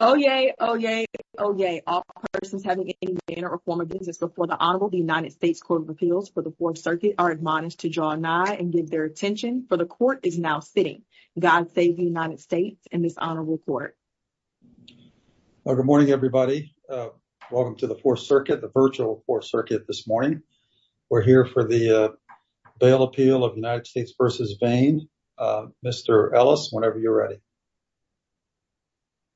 Oh yay, oh yay, oh yay. All persons having any manner or form of business before the Honorable United States Court of Appeals for the Fourth Circuit are admonished to draw nigh and give their attention, for the Court is now sitting. God save the United States and this Honorable Court. Well, good morning everybody. Welcome to the Fourth Circuit, the virtual Fourth Circuit this morning. We're here for the bail appeal of United States v. Vane. Mr. Ellis, whenever you're ready.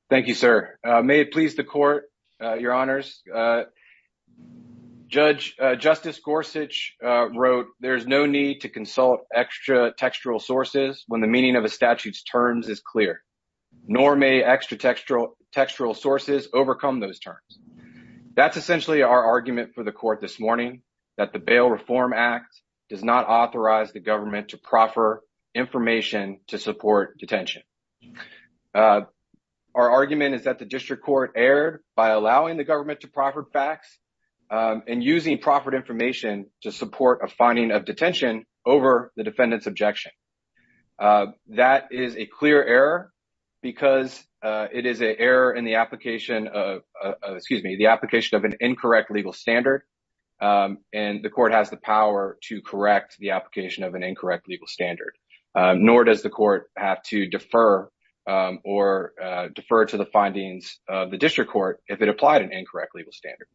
Thank you, sir. May it please the Court, Your Honors. Judge, Justice Gorsuch wrote, there's no need to consult extra textual sources when the meaning of a statute's terms is clear, nor may extra textual sources overcome those terms. That's essentially our argument for the Court this morning, that the Bail Reform Act does not authorize the government to proffer information to support detention. Our argument is that the District Court erred by allowing the government to proffer facts and using proffered information to support a finding of detention over the defendant's objection. That is a clear error because it is an error in the application of, excuse me, the application of an incorrect legal standard. And the Court has the power to correct the application of an incorrect legal standard, nor does the Court have to defer or defer to the findings of the District Court if it applied an incorrect legal standard.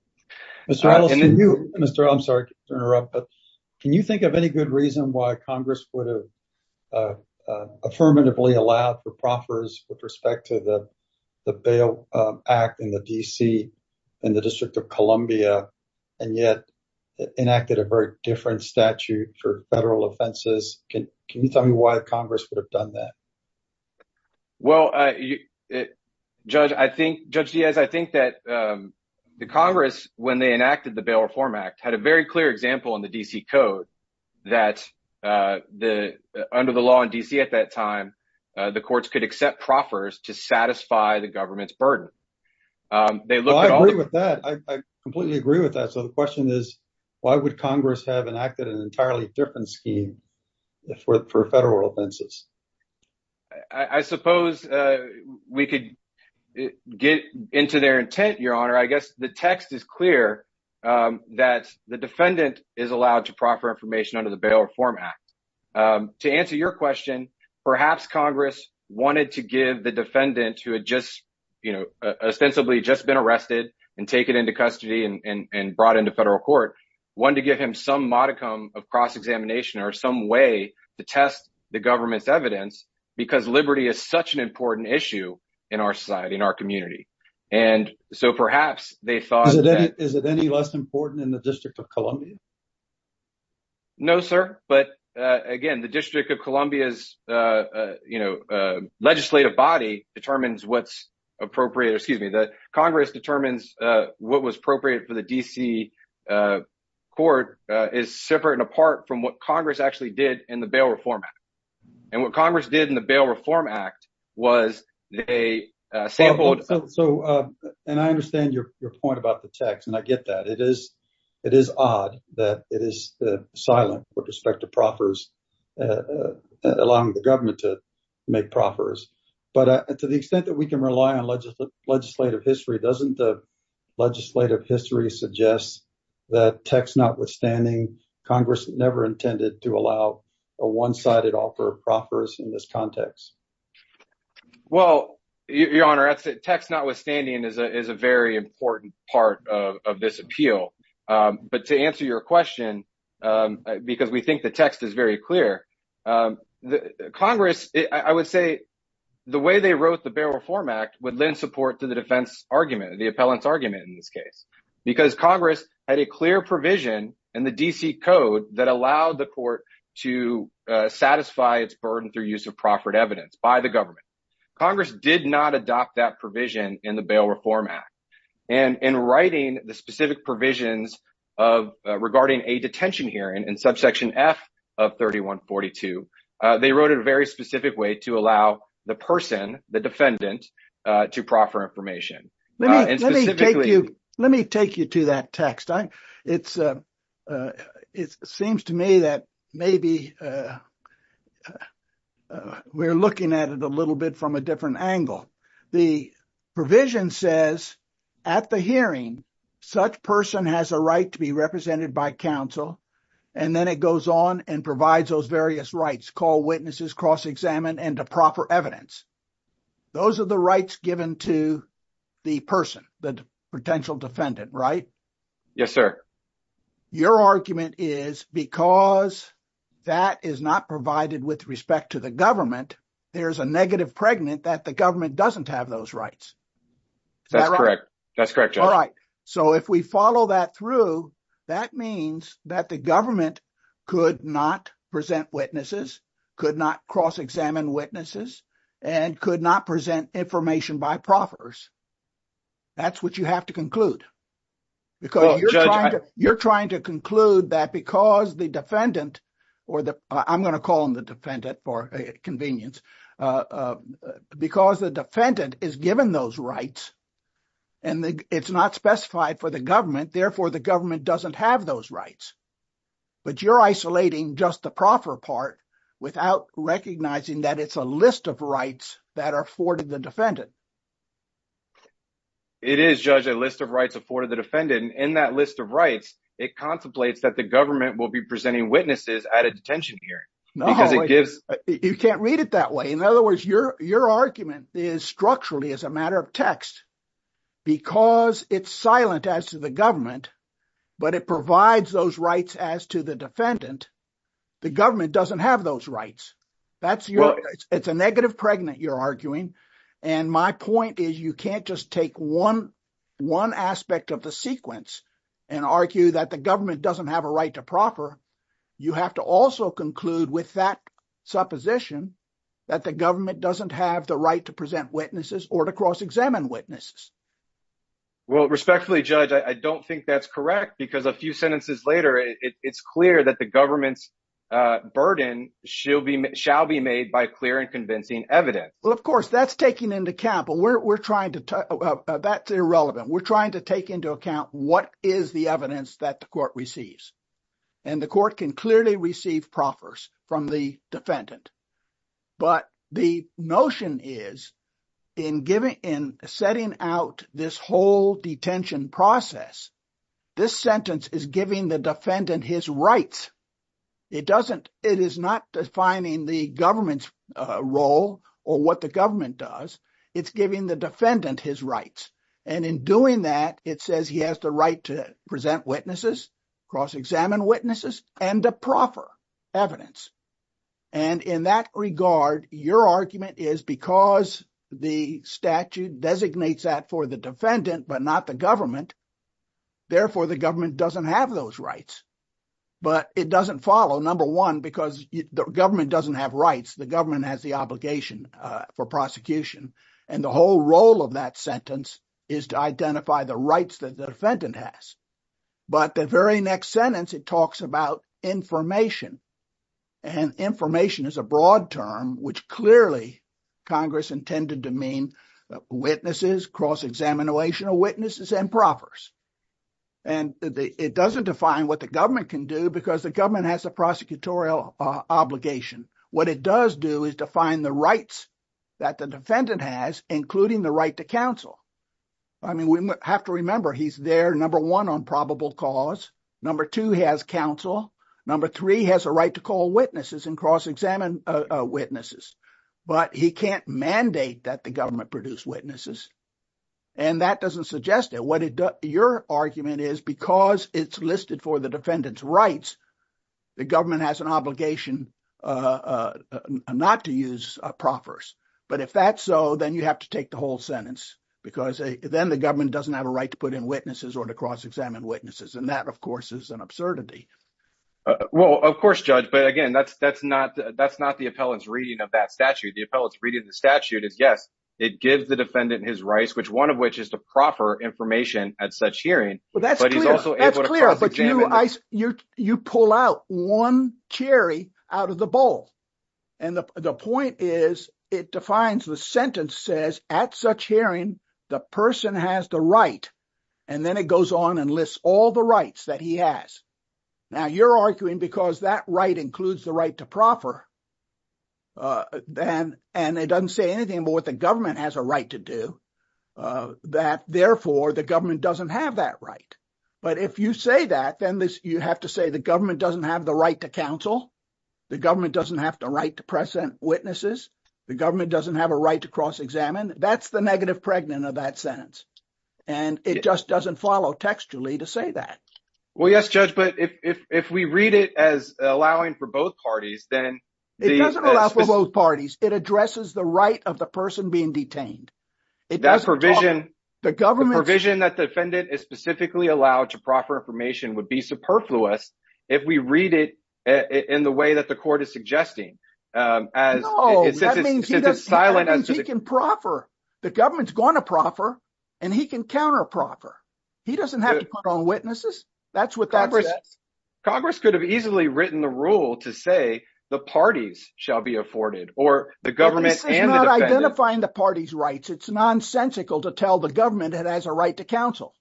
Mr. Ellis, can you, Mr. Ellis, I'm sorry to interrupt, but can you think of any good reason why Congress would have affirmatively allowed the proffers with respect to the Bail Act in the D.C., in the District of Columbia, and yet enacted a very different statute for federal offenses? Can you tell me why Congress would have done that? Well, Judge Diaz, I think that the Congress, when they enacted the Bail Reform Act, had a very clear example in the D.C. Code that under the law in D.C. at that time, the courts could accept proffers to satisfy the government's burden. Well, I agree with that. I completely agree with that. So the question is, why would Congress have enacted an entirely different scheme for federal offenses? I suppose we could get into their intent, Your Honor. I guess the text is clear that the defendant is allowed to proffer information under the Bail Reform Act. To answer your question, perhaps Congress wanted to give the defendant who had just, you know, ostensibly just been arrested and taken into custody and brought into federal court, wanted to give him some modicum of cross-examination or some way to test the government's evidence, because liberty is such an important issue in our society, in our community. And so perhaps they thought that... Is it any less important in the District of Columbia? No, sir. But again, the District of Columbia's, you know, legislative body determines what's appropriate, or excuse me, that Congress determines what was appropriate for the D.C. court is separate and apart from what Congress actually did in the Bail Reform Act. And what Congress did in the Bail Reform Act was they sampled... So, and I understand your point about the text, and I get that. It is odd that it is silent with respect to proffers, allowing the government to make proffers. But to the extent that we can rely on legislative history, doesn't the legislative history suggest that text notwithstanding, Congress never intended to allow a one-sided offer of proffers in this context? Well, Your Honor, text notwithstanding is a very important part of this appeal. But to answer your question, because we think the text is very clear, Congress, I would say the way they wrote the Bail Reform Act would lend support to the defense argument, the appellant's argument in this case, because Congress had a clear provision in the D.C. Code that allowed the court to satisfy its burden through use of proffered evidence by the government. Congress did not adopt that provision in the Bail Reform Act. And in writing the specific provisions regarding a detention hearing in subsection F of 3142, they wrote it a very specific way to allow the person, the defendant, to proffer information. And specifically... Let me take you to that text. It seems to me that maybe we're looking at it a little bit from a different angle. The provision says, at the hearing, such person has a right to be represented by counsel, and then it goes on and provides those various rights, call witnesses, cross-examine, and to proffer evidence. Those are the rights given to the person, the potential defendant, right? Yes, sir. Your argument is because that is not provided with respect to the government, there's a negative pregnant that the government doesn't have those rights. That's correct. That's correct. All right. So if we follow that through, that means that the government could not present witnesses, could not cross-examine witnesses, and could not present information by proffers. That's what you have to conclude. You're trying to conclude that because the defendant, or I'm going to call him the defendant for convenience, because the defendant is given those rights, and it's not specified for the government, therefore the government doesn't have those rights. But you're isolating just the proffer part without recognizing that it's a list of rights that are afforded the defendant. It is, Judge, a list of rights afforded the defendant, and in that list of rights, it contemplates that the government will be presenting witnesses at a detention here. No, you can't read it that way. In other words, your argument is structurally, as a matter of text, because it's silent as to the government, but it provides those rights as to the defendant, the government doesn't have those rights. It's a negative pregnant you're arguing, and my point is you can't just take one aspect of the sequence and argue that the government doesn't have a right to proffer. You have to also conclude with that supposition that the government doesn't have the right to present witnesses or to cross-examine witnesses. Well, respectfully, Judge, I don't think that's correct because a few sentences later, it's clear that the government's burden shall be made by clear and convincing evidence. Well, of course, that's irrelevant. We're trying to take into account what is the evidence that the court receives, and the court can clearly receive proffers from the defendant. But the notion is, in setting out this whole detention process, this sentence is giving the defendant his rights. It is not defining the government's role or what the government does. It's giving the defendant his rights. And in doing that, it says he has the right to present witnesses, cross-examine witnesses, and to proffer evidence. And in that regard, your argument is because the statute designates that for the defendant, but not the government, therefore the government doesn't have those rights. But it doesn't follow, number one, because the government doesn't have rights. The government has the obligation for prosecution, and the whole role of that sentence is to identify the rights that the defendant has. But the very next sentence, it talks about information, and information is a broad term, which clearly Congress intended to mean witnesses, cross-examination of witnesses, and proffers. And it doesn't define what the government can do because the government has a prosecutorial obligation. What it does do is define the rights that the defendant has, including the right to counsel. I mean, we have to remember he's there, number one, on probable cause. Number two, he has counsel. Number three, he has a right to call witnesses and cross-examine witnesses. But he can't mandate that the government produce witnesses. And that doesn't suggest it. What your argument is, because it's listed for the defendant's rights, the government has an obligation not to use proffers. But if that's so, then you have to take the whole sentence, because then the government doesn't have a right to put in witnesses or to cross-examine witnesses. And that, of course, is an absurdity. Well, of course, Judge. But again, that's not the appellant's reading of that statute. The appellant's reading of the statute is, yes, it gives the defendant his rights, one of which is to proffer information at such hearing, but he's also able to cross-examine them. You pull out one cherry out of the bowl. And the point is, it defines the sentence says, at such hearing, the person has the right, and then it goes on and lists all the rights that he has. Now, you're arguing because that right includes the right to proffer, and it doesn't say anything about what the government has a right to do, that therefore the government doesn't have that right. But if you say that, then you have to say the government doesn't have the right to counsel. The government doesn't have the right to present witnesses. The government doesn't have a right to cross-examine. That's the negative pregnant of that sentence. And it just doesn't follow textually to say that. Well, yes, Judge. But if we read it as allowing for both parties, then- It doesn't allow for both parties. It addresses the right of the person being detained. It doesn't talk- That provision- No, that means he can proffer. The government's going to proffer, and he can counter-proffer. He doesn't have to put on witnesses. That's what that says. Congress could have easily written the rule to say the parties shall be afforded, or the government and the defendant- This is not identifying the party's rights. It's nonsensical to tell the government it has a right to counsel.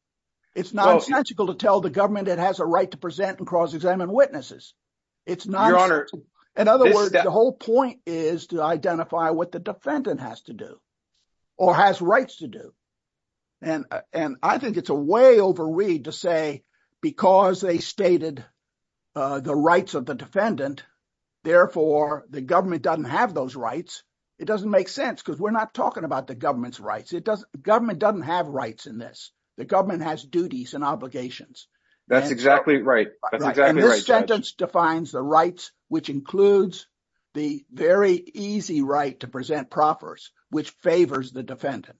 It's nonsensical to tell the government it has a right to present and cross-examine witnesses. In other words, the whole point is to identify what the defendant has to do or has rights to do. And I think it's a way over read to say because they stated the rights of the defendant, therefore the government doesn't have those rights. It doesn't make sense because we're not talking about the government's rights. Government doesn't have rights in this. The government has duties and obligations. That's exactly right. That's exactly right, Judge. And this sentence defines the rights, which includes the very easy right to present proffers, which favors the defendant.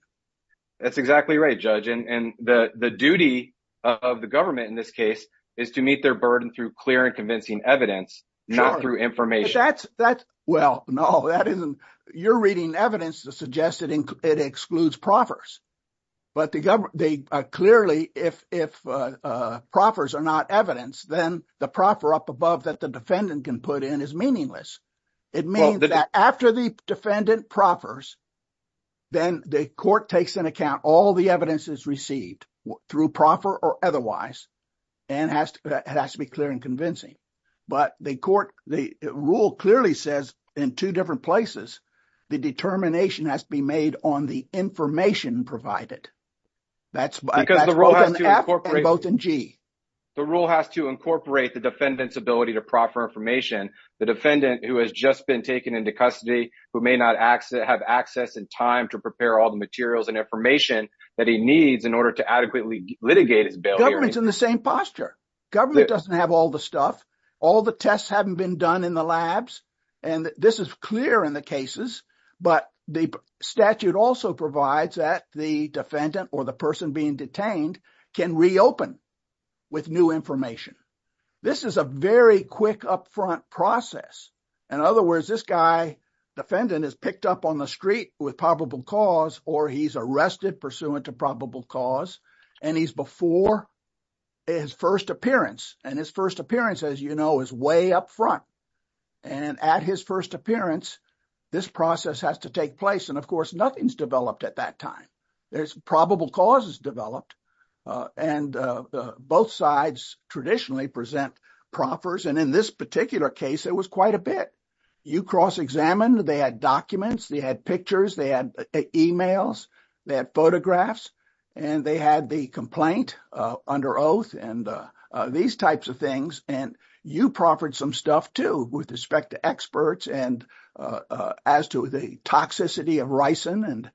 That's exactly right, Judge. And the duty of the government in this case is to meet their burden through clear and convincing evidence, not through information. Well, no. You're reading evidence to suggest that it excludes proffers. But clearly, if proffers are not evidence, then the proffer up above that the defendant can put in is meaningless. It means that after the defendant proffers, then the court takes into account all the evidence is received through proffer or otherwise. And it has to be clear and convincing. But the court, the rule clearly says in two different places, the determination has to be made on the information provided. That's both in F and both in G. The rule has to incorporate the defendant's ability to proffer information. The defendant who has just been taken into custody, who may not have access in time to prepare all the materials and information that he needs in to adequately litigate his bail hearing. The government's in the same posture. Government doesn't have all the stuff. All the tests haven't been done in the labs. And this is clear in the cases. But the statute also provides that the defendant or the person being detained can reopen with new information. This is a very quick upfront process. In other words, this guy, defendant, is picked up on the street with probable cause or he's arrested pursuant to probable cause. And he's before his first appearance. And his first appearance, as you know, is way up front. And at his first appearance, this process has to take place. And of course, nothing's developed at that time. There's probable causes developed and both sides traditionally present proffers. And in this particular case, it was quite a bit. You cross-examined. They had documents. They had pictures. They had emails. They had photographs. And they had the complaint under oath and these types of things. And you proffered some stuff, too, with respect to experts and as to the toxicity of ricin.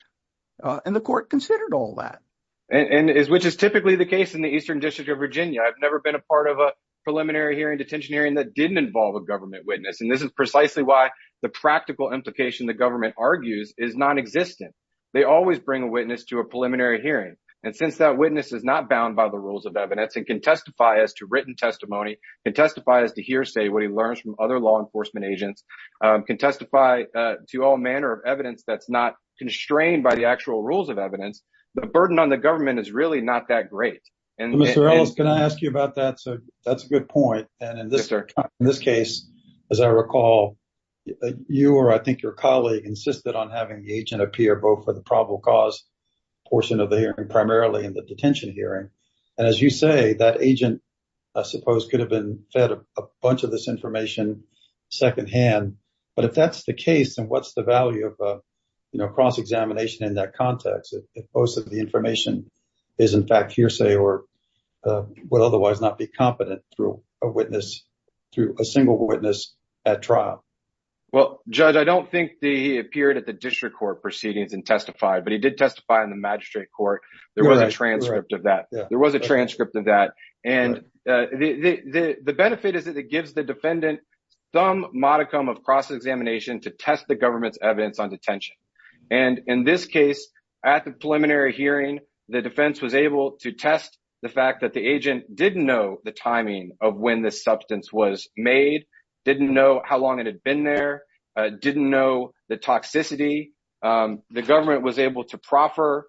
And the court considered all that. And which is typically the case in the Eastern District of Virginia. I've never been a part of a preliminary hearing, detention hearing that didn't involve a government witness. And this precisely why the practical implication the government argues is non-existent. They always bring a witness to a preliminary hearing. And since that witness is not bound by the rules of evidence and can testify as to written testimony, can testify as to hearsay, what he learns from other law enforcement agents, can testify to all manner of evidence that's not constrained by the actual rules of evidence, the burden on the government is really not that great. Mr. Ellis, can I ask you about that? So that's a good point. And in this case, as I recall, you or I think your colleague insisted on having the agent appear both for the probable cause portion of the hearing, primarily in the detention hearing. And as you say, that agent, I suppose, could have been fed a bunch of this information secondhand. But if that's the case, then what's the value of cross-examination in that context? If most of the information is in fact hearsay or would otherwise not be competent through a single witness at trial? Well, Judge, I don't think he appeared at the district court proceedings and testified, but he did testify in the magistrate court. There was a transcript of that. There was a transcript of that. And the benefit is that it gives the defendant some modicum of cross-examination to test the government's evidence on detention. And in this case, at the preliminary hearing, the defense was able to test the fact that the agent didn't know the timing of when this substance was made, didn't know how long it had been there, didn't know the toxicity. The government was able to proffer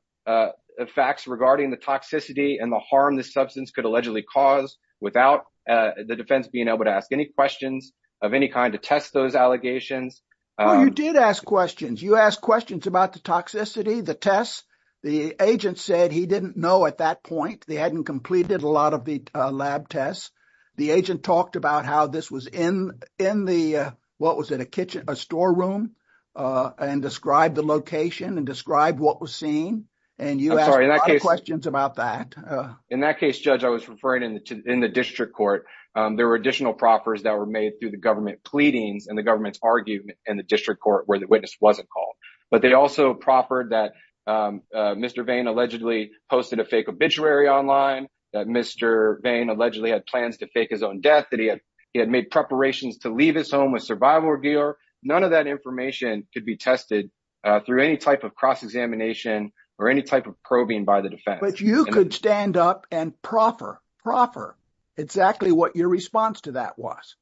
facts regarding the toxicity and the harm the substance could allegedly cause without the defense being able to ask any questions of any kind to test those allegations. Well, you did ask questions. You asked questions about the toxicity, the tests. The agent said he didn't know at that point. They hadn't completed a lot of the lab tests. The agent talked about how this was in the, what was it, a kitchen, a storeroom, and described the location and described what was seen. And you asked a lot of questions about that. In that case, Judge, I was referring to in the district court, there were additional proffers that were made through the government pleadings and the government's argument in the district court where the witness wasn't called. But they also proffered that Mr. Vane allegedly posted a fake obituary online, that Mr. Vane allegedly had plans to fake his own death, that he had made preparations to leave his home as survival reviewer. None of that information could be tested through any type of cross-examination or any type of probing by the defense. But you could stand up and proffer, proffer what your response to that was.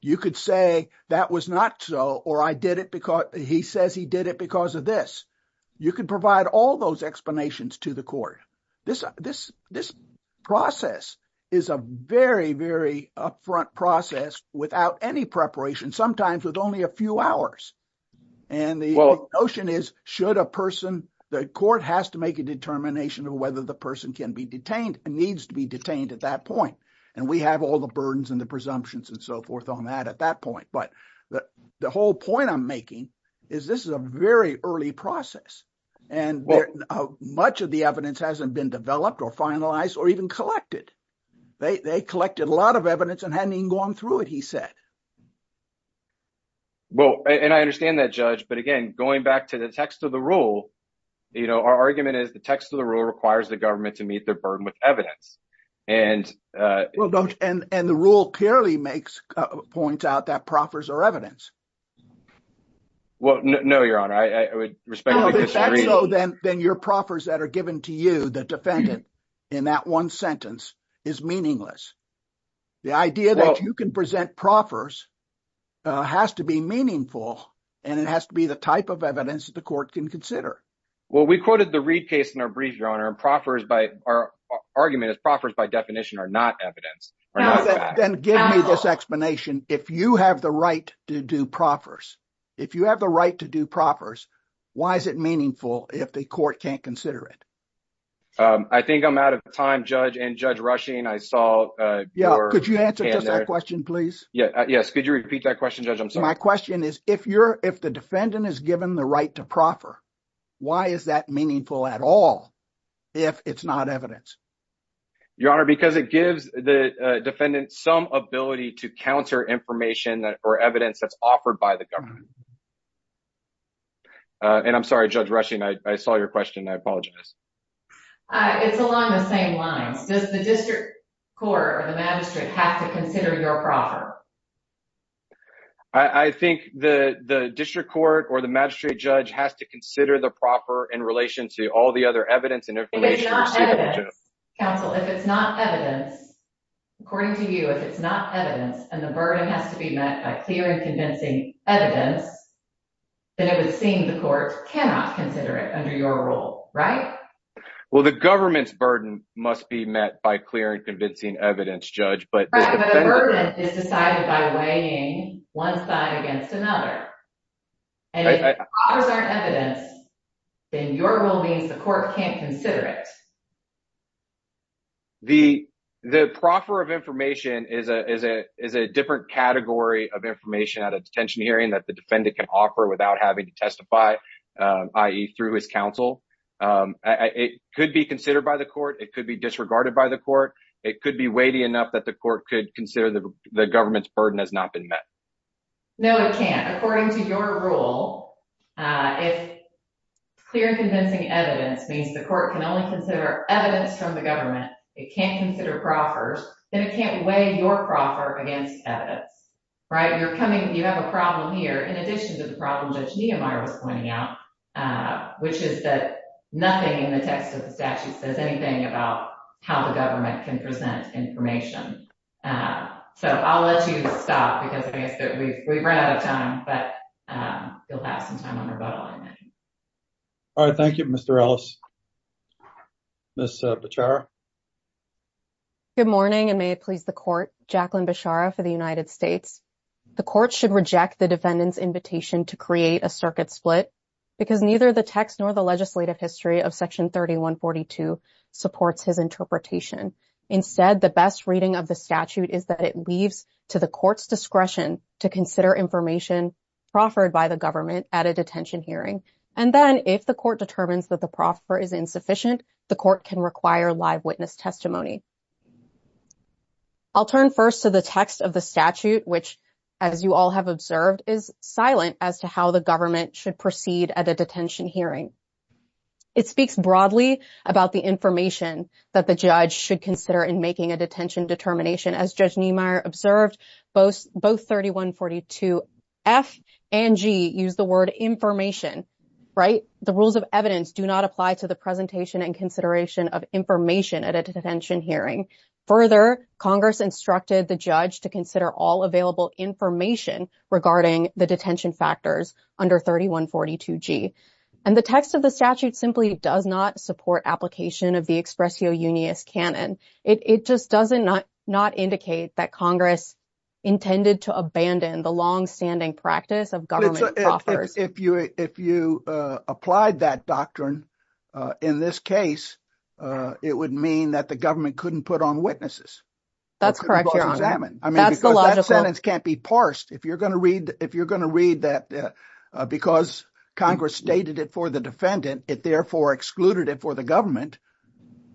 You could say, that was not so, or I did it because, he says he did it because of this. You could provide all those explanations to the court. This process is a very, very upfront process without any preparation, sometimes with only a few hours. And the notion is, should a person, the court has to make a determination of whether the person can be detained and needs to be detained at that point. And we have all the burdens and the presumptions and so forth on that at that point. But the whole point I'm making is, this is a very early process and much of the evidence hasn't been developed or finalized or even collected. They collected a lot of evidence and hadn't even gone through it, he said. Well, and I understand that judge, but again, going back to the text of the rule, our argument is, the text of the rule requires the government to meet their burden with evidence. And the rule clearly makes, points out that proffers are evidence. Well, no, your honor, I would respectfully disagree. Then your proffers that are given to you, the defendant in that one sentence is meaningless. The idea that you can present proffers has to be meaningful and it has to be the type of evidence that the court can consider. Well, we quoted the Reed case in our brief, your honor, and argument is proffers by definition are not evidence, are not facts. Then give me this explanation. If you have the right to do proffers, if you have the right to do proffers, why is it meaningful if the court can't consider it? I think I'm out of time, judge, and judge Rushing, I saw- Yeah, could you answer just that question, please? Yeah, yes. Could you repeat that question, judge? I'm sorry. My question is if the defendant is given the right to proffer, why is that meaningful at all if it's not evidence? Your honor, because it gives the defendant some ability to counter information or evidence that's offered by the government. And I'm sorry, Judge Rushing, I saw your question. I apologize. It's along the same lines. Does the district court or the magistrate have to consider your proffer? I think the district court or the magistrate judge has to consider the proffer in relation to all the other evidence and information- If it's not evidence, counsel, if it's not evidence, according to you, if it's not evidence and the burden has to be met by clear and convincing evidence, then it would seem the court cannot consider it under your rule, right? Well, the government's burden must be met by clear and convincing evidence, judge, but- By weighing one side against another. And if the proffers aren't evidence, then your rule means the court can't consider it. The proffer of information is a different category of information at a detention hearing that the defendant can offer without having to testify, i.e. through his counsel. It could be considered by the court. It could be disregarded by the court. It could be weighty enough that the court could consider the government's burden has not been met. No, it can't. According to your rule, if clear and convincing evidence means the court can only consider evidence from the government, it can't consider proffers, then it can't weigh your proffer against evidence, right? You have a problem here in addition to the problem Judge Niemeyer was pointing out, which is that nothing in the text of the statute says anything about how the government can present information. So, I'll let you stop because I guess that we've run out of time, but you'll have some time on rebuttal in a minute. All right, thank you, Mr. Ellis. Ms. Bechara? Good morning, and may it please the court. Jacqueline Bechara for the United States. The court should reject the defendant's invitation to create a circuit split because neither the text nor the legislative history of section 3142 supports his interpretation. Instead, the best reading of the statute is that it leaves to the court's discretion to consider information proffered by the government at a detention hearing, and then if the court determines that the proffer is insufficient, the court can require live witness testimony. I'll turn first to the text of the statute, which, as you all have observed, is silent as to how the court should proceed at a detention hearing. It speaks broadly about the information that the judge should consider in making a detention determination. As Judge Niemeyer observed, both 3142F and G use the word information, right? The rules of evidence do not apply to the presentation and consideration of information at a detention hearing. Further, Congress instructed the judge to consider all available information regarding the detention factors under 3142G, and the text of the statute simply does not support application of the expressio unius canon. It just does not indicate that Congress intended to abandon the long-standing practice of government proffers. If you applied that doctrine in this case, it would mean that the government couldn't put on witnesses. That's correct, Your Honor. I mean, because that sentence can't be parsed. If you're going to read that because Congress stated it for the defendant, it therefore excluded it for the government,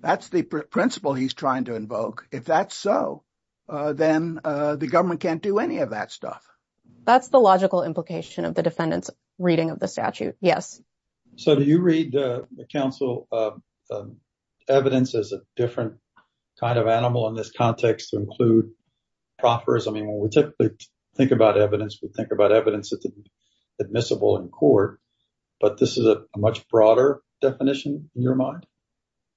that's the principle he's trying to invoke. If that's so, then the government can't do any of that stuff. That's the logical implication of the defendant's reading of the statute, yes. So, do you read the counsel evidence as a different kind of animal in this context to include proffers? I mean, when we typically think about evidence, we think about evidence that's admissible in court, but this is a much broader definition in your mind?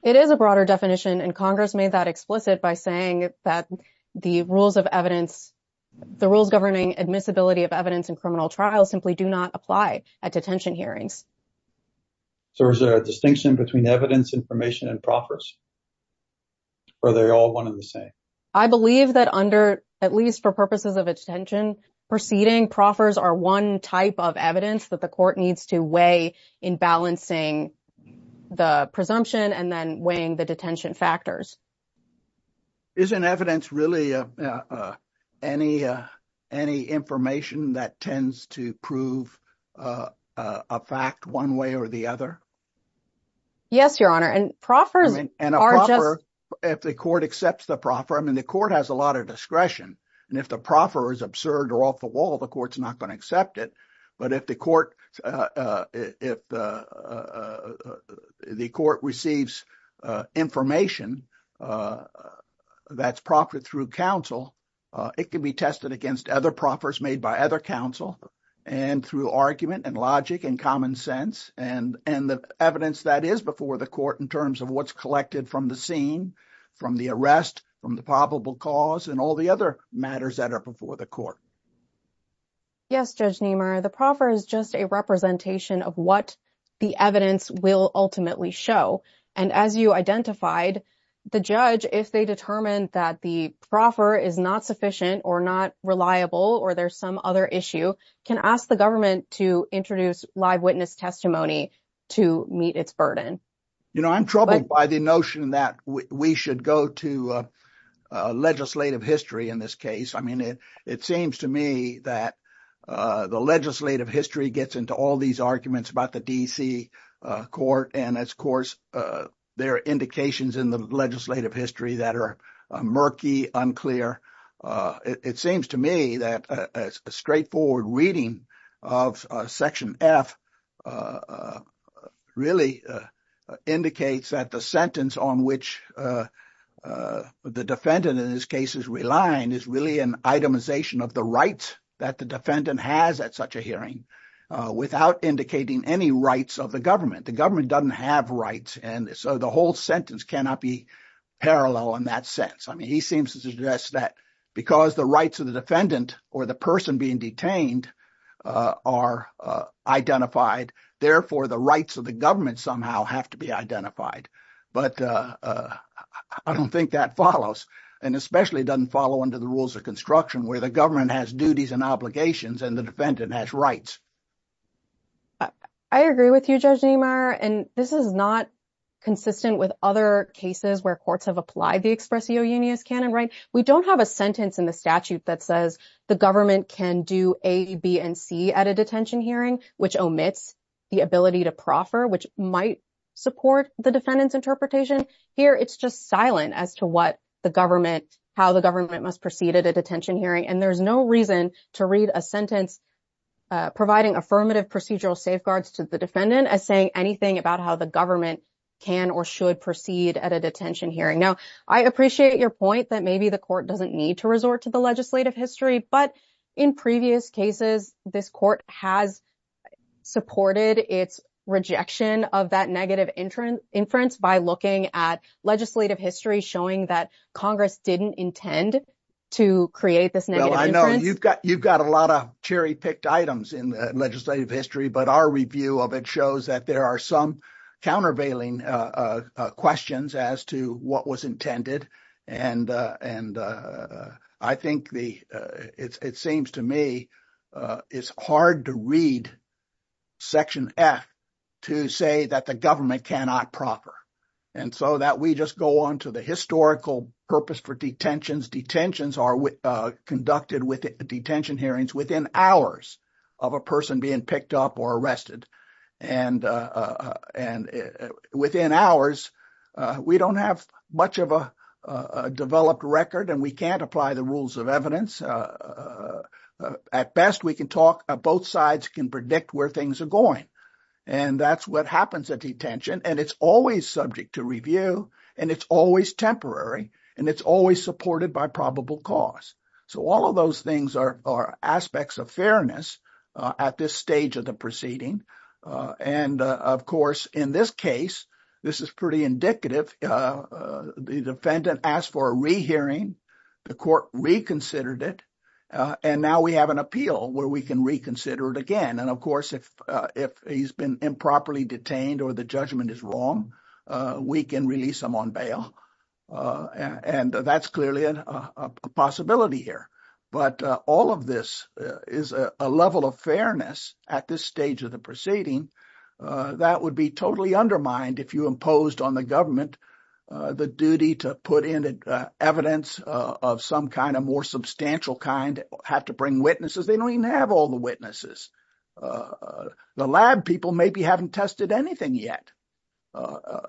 It is a broader definition, and Congress made that explicit by saying that the rules governing admissibility of evidence in criminal trials simply do not apply at detention hearings. So, is there a distinction between evidence, information, and proffers, or are they all one and the same? I believe that under, at least for purposes of a detention proceeding, proffers are one type of evidence that the court needs to weigh in balancing the presumption and then weighing the detention factors. Isn't evidence really any information that tends to prove a fact one way or the other? Yes, Your Honor, and proffers are just- And a proffer, if the court accepts the proffer, I mean, the court has a lot of discretion, and if the proffer is absurd or off the wall, the court's not going to accept it, but if the court receives information that's proffered through counsel, it can be tested against other proffers made by other counsel and through argument and logic and common sense and the evidence that is before the court in terms of what's collected from the scene, from the arrest, from the probable cause, and all the other matters that are before the court. Yes, Judge Niemeyer, the proffer is just a representation of what the evidence will ultimately show, and as you identified, the judge, if they determine that the proffer is not sufficient or not reliable or there's some other issue, can ask the government to introduce live witness testimony to meet its burden. You know, I'm troubled by the notion that we should go to legislative history in this case. I mean, it seems to me that the legislative history gets into all these arguments about the D.C. Court, and, of course, there are indications in the legislative history that are murky, unclear. It seems to me that a straightforward reading of Section F really indicates that the sentence on which the defendant in this case is relying is really an itemization of the rights that the defendant has at such a hearing without indicating any rights of the government. The government doesn't have rights, and so the whole sentence cannot be parallel in that sense. I mean, he seems to suggest that because the rights of the defendant or the person being detained are identified, therefore the rights of the government somehow have to be identified, but I don't think that follows, and especially doesn't follow under the rules of construction where the government has duties and obligations and the defendant has rights. I agree with you, Judge Niemeyer, and this is not consistent with other cases where courts have applied the expressio unius canon, right? We don't have a sentence in the statute that says the government can do A, B, and C at a detention hearing, which omits the ability to proffer, which might support the defendant's interpretation. Here, it's just silent as to how the government must proceed at a detention hearing, and there's no reason to read a sentence providing affirmative procedural safeguards to the defendant as saying anything about how the government can or should proceed at a detention hearing. Now, I appreciate your point that maybe the court doesn't need to resort to the legislative history, but in previous cases, this court has supported its rejection of that negative inference by looking at legislative history showing that Congress didn't intend to create this negative inference. Well, I know you've got a lot of cherry-picked items in the legislative history, but our review of it shows that there are some countervailing questions as to what was intended, and I think it seems to me it's hard to read Section F to say that the government cannot proffer, and so we just go on to the historical purpose for detentions. Detentions are conducted with detention hearings within hours of a person being picked up or arrested, and within hours, we don't have much of a developed record, and we can't apply the rules of evidence. At best, we can talk, both sides can predict where things are going, and that's what happens at detention, and it's always subject to review, and it's always temporary, and it's always supported by probable cause. So all of those things are aspects of fairness at this stage of the proceeding, and of course, in this case, this is pretty indicative, the defendant asked for a rehearing, the court reconsidered it, and now we have an appeal where we can reconsider it again, and of course, if he's been improperly detained or the judgment is wrong, we can release him on bail, and that's clearly a possibility here, but all of this is a level of fairness at this stage of the proceeding that would be totally undermined if you imposed on the government the duty to put in evidence of some kind, a more substantial kind, have to bring witnesses. They don't even have all the witnesses. The lab people maybe haven't tested anything yet.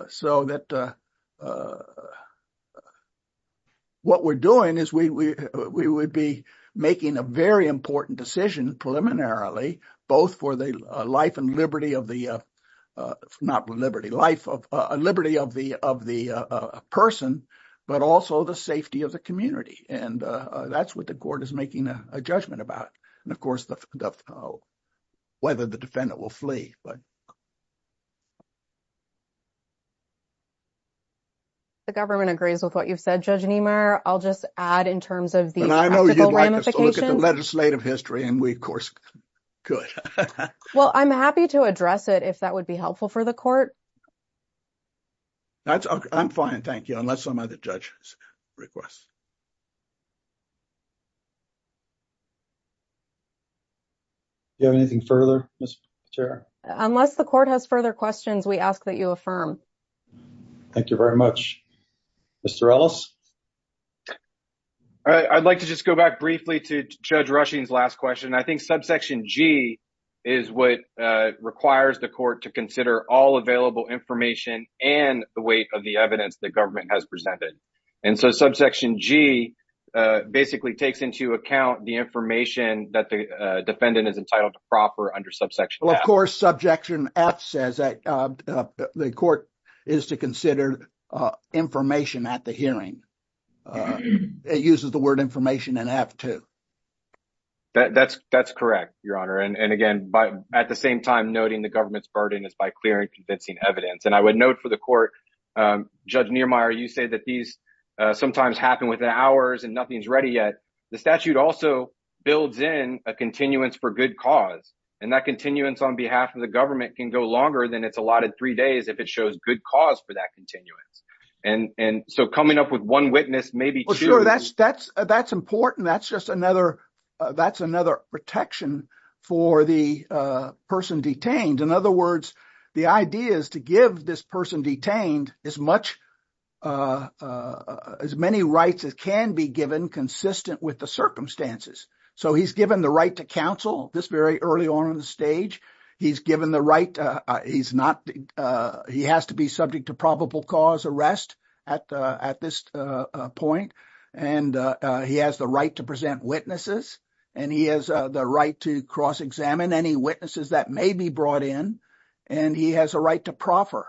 So what we're doing is we would be making a very important decision preliminarily, both for the life and liberty of the person, but also the safety of the community, and that's what the court is making a judgment about, and of course, whether the defendant will flee. The government agrees with what you've said, Judge Niemeyer. I'll just add in terms of the practical ramifications. I know you'd like us to look at the legislative history, and we, of course, could. Well, I'm happy to address it if that would be helpful for the court. I'm fine, thank you, unless some other judge requests. Do you have anything further, Mr. Chair? Unless the court has further questions, we ask that you affirm. Thank you very much. Mr. Ellis? I'd like to just go back briefly to Judge Rushing's last question. I think subsection G is what requires the court to consider all available information and the weight of the has presented. So, subsection G basically takes into account the information that the defendant is entitled to proper under subsection F. Of course, subjection F says that the court is to consider information at the hearing. It uses the word information in F too. That's correct, Your Honor, and again, at the same time, noting the government's burden is by and convincing evidence. I would note for the court, Judge Niermeyer, you say that these sometimes happen within hours and nothing's ready yet. The statute also builds in a continuance for good cause, and that continuance on behalf of the government can go longer than it's allotted three days if it shows good cause for that continuance. So, coming up with one witness, maybe two. Sure, that's important. That's just another protection for the person detained. In other words, the idea is to give this person detained as many rights as can be given consistent with the circumstances. So, he's given the right to counsel this very early on in the stage. He has to be subject to probable cause arrest at this point, and he has the right to present and he has a right to proffer.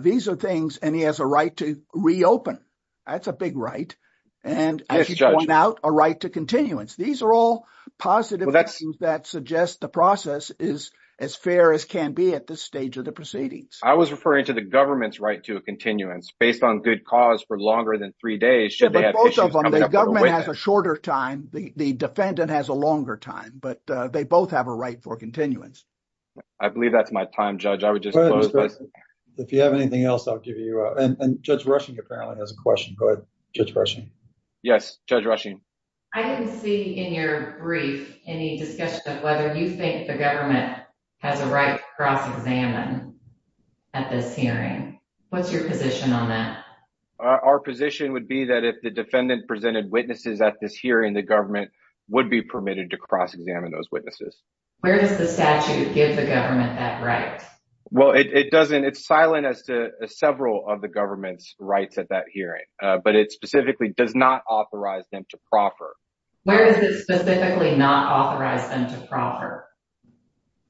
These are things, and he has a right to reopen. That's a big right, and as you point out, a right to continuance. These are all positive things that suggest the process is as fair as can be at this stage of the proceedings. I was referring to the government's right to a continuance based on good cause for longer than three days. The government has a shorter time. The defendant has a longer time, but they both have a right for continuance. I believe that's my time, Judge. I would just close. If you have anything else, I'll give you up, and Judge Rushing apparently has a question. Go ahead, Judge Rushing. Yes, Judge Rushing. I didn't see in your brief any discussion of whether you think the government has a right to cross examine at this hearing. What's your position on that? Our position would be that if the defendant presented witnesses at this hearing, the government would be permitted to cross examine those witnesses. Where does the statute give the government that right? Well, it doesn't. It's silent as to several of the government's rights at that hearing, but it specifically does not authorize them to proffer. Where does it specifically not authorize them to proffer?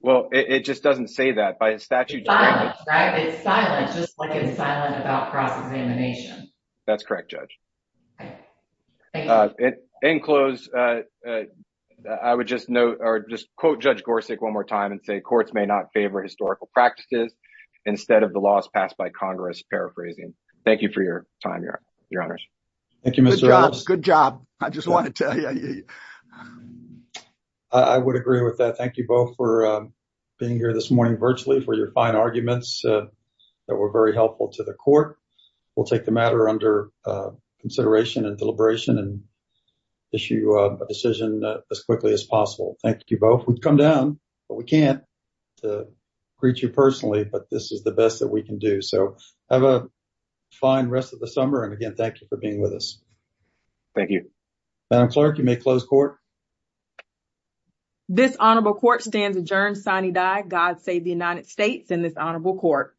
Well, it just doesn't say that. It's silent, right? It's silent, just like it's silent about cross-examination. That's correct, Judge. Thank you. In close, I would just note or just quote Judge Gorsuch one more time and say courts may not favor historical practices instead of the laws passed by Congress, paraphrasing. Thank you for your time, Your Honors. Thank you, Mr. Ross. Good job. I just want to tell you. I would agree with that. Thank you both for being here this morning virtually for your fine arguments that were very helpful to the court. We'll take the matter under consideration and deliberation and issue a decision as quickly as possible. Thank you both. We've come down, but we can't greet you personally, but this is the best that we can do. So have a fine rest of the summer. And again, thank you for being with us. Thank you. Madam Chair. Thank you, Your Honor. This concludes the Hearing of the Judge of the United States and the Honorable Court.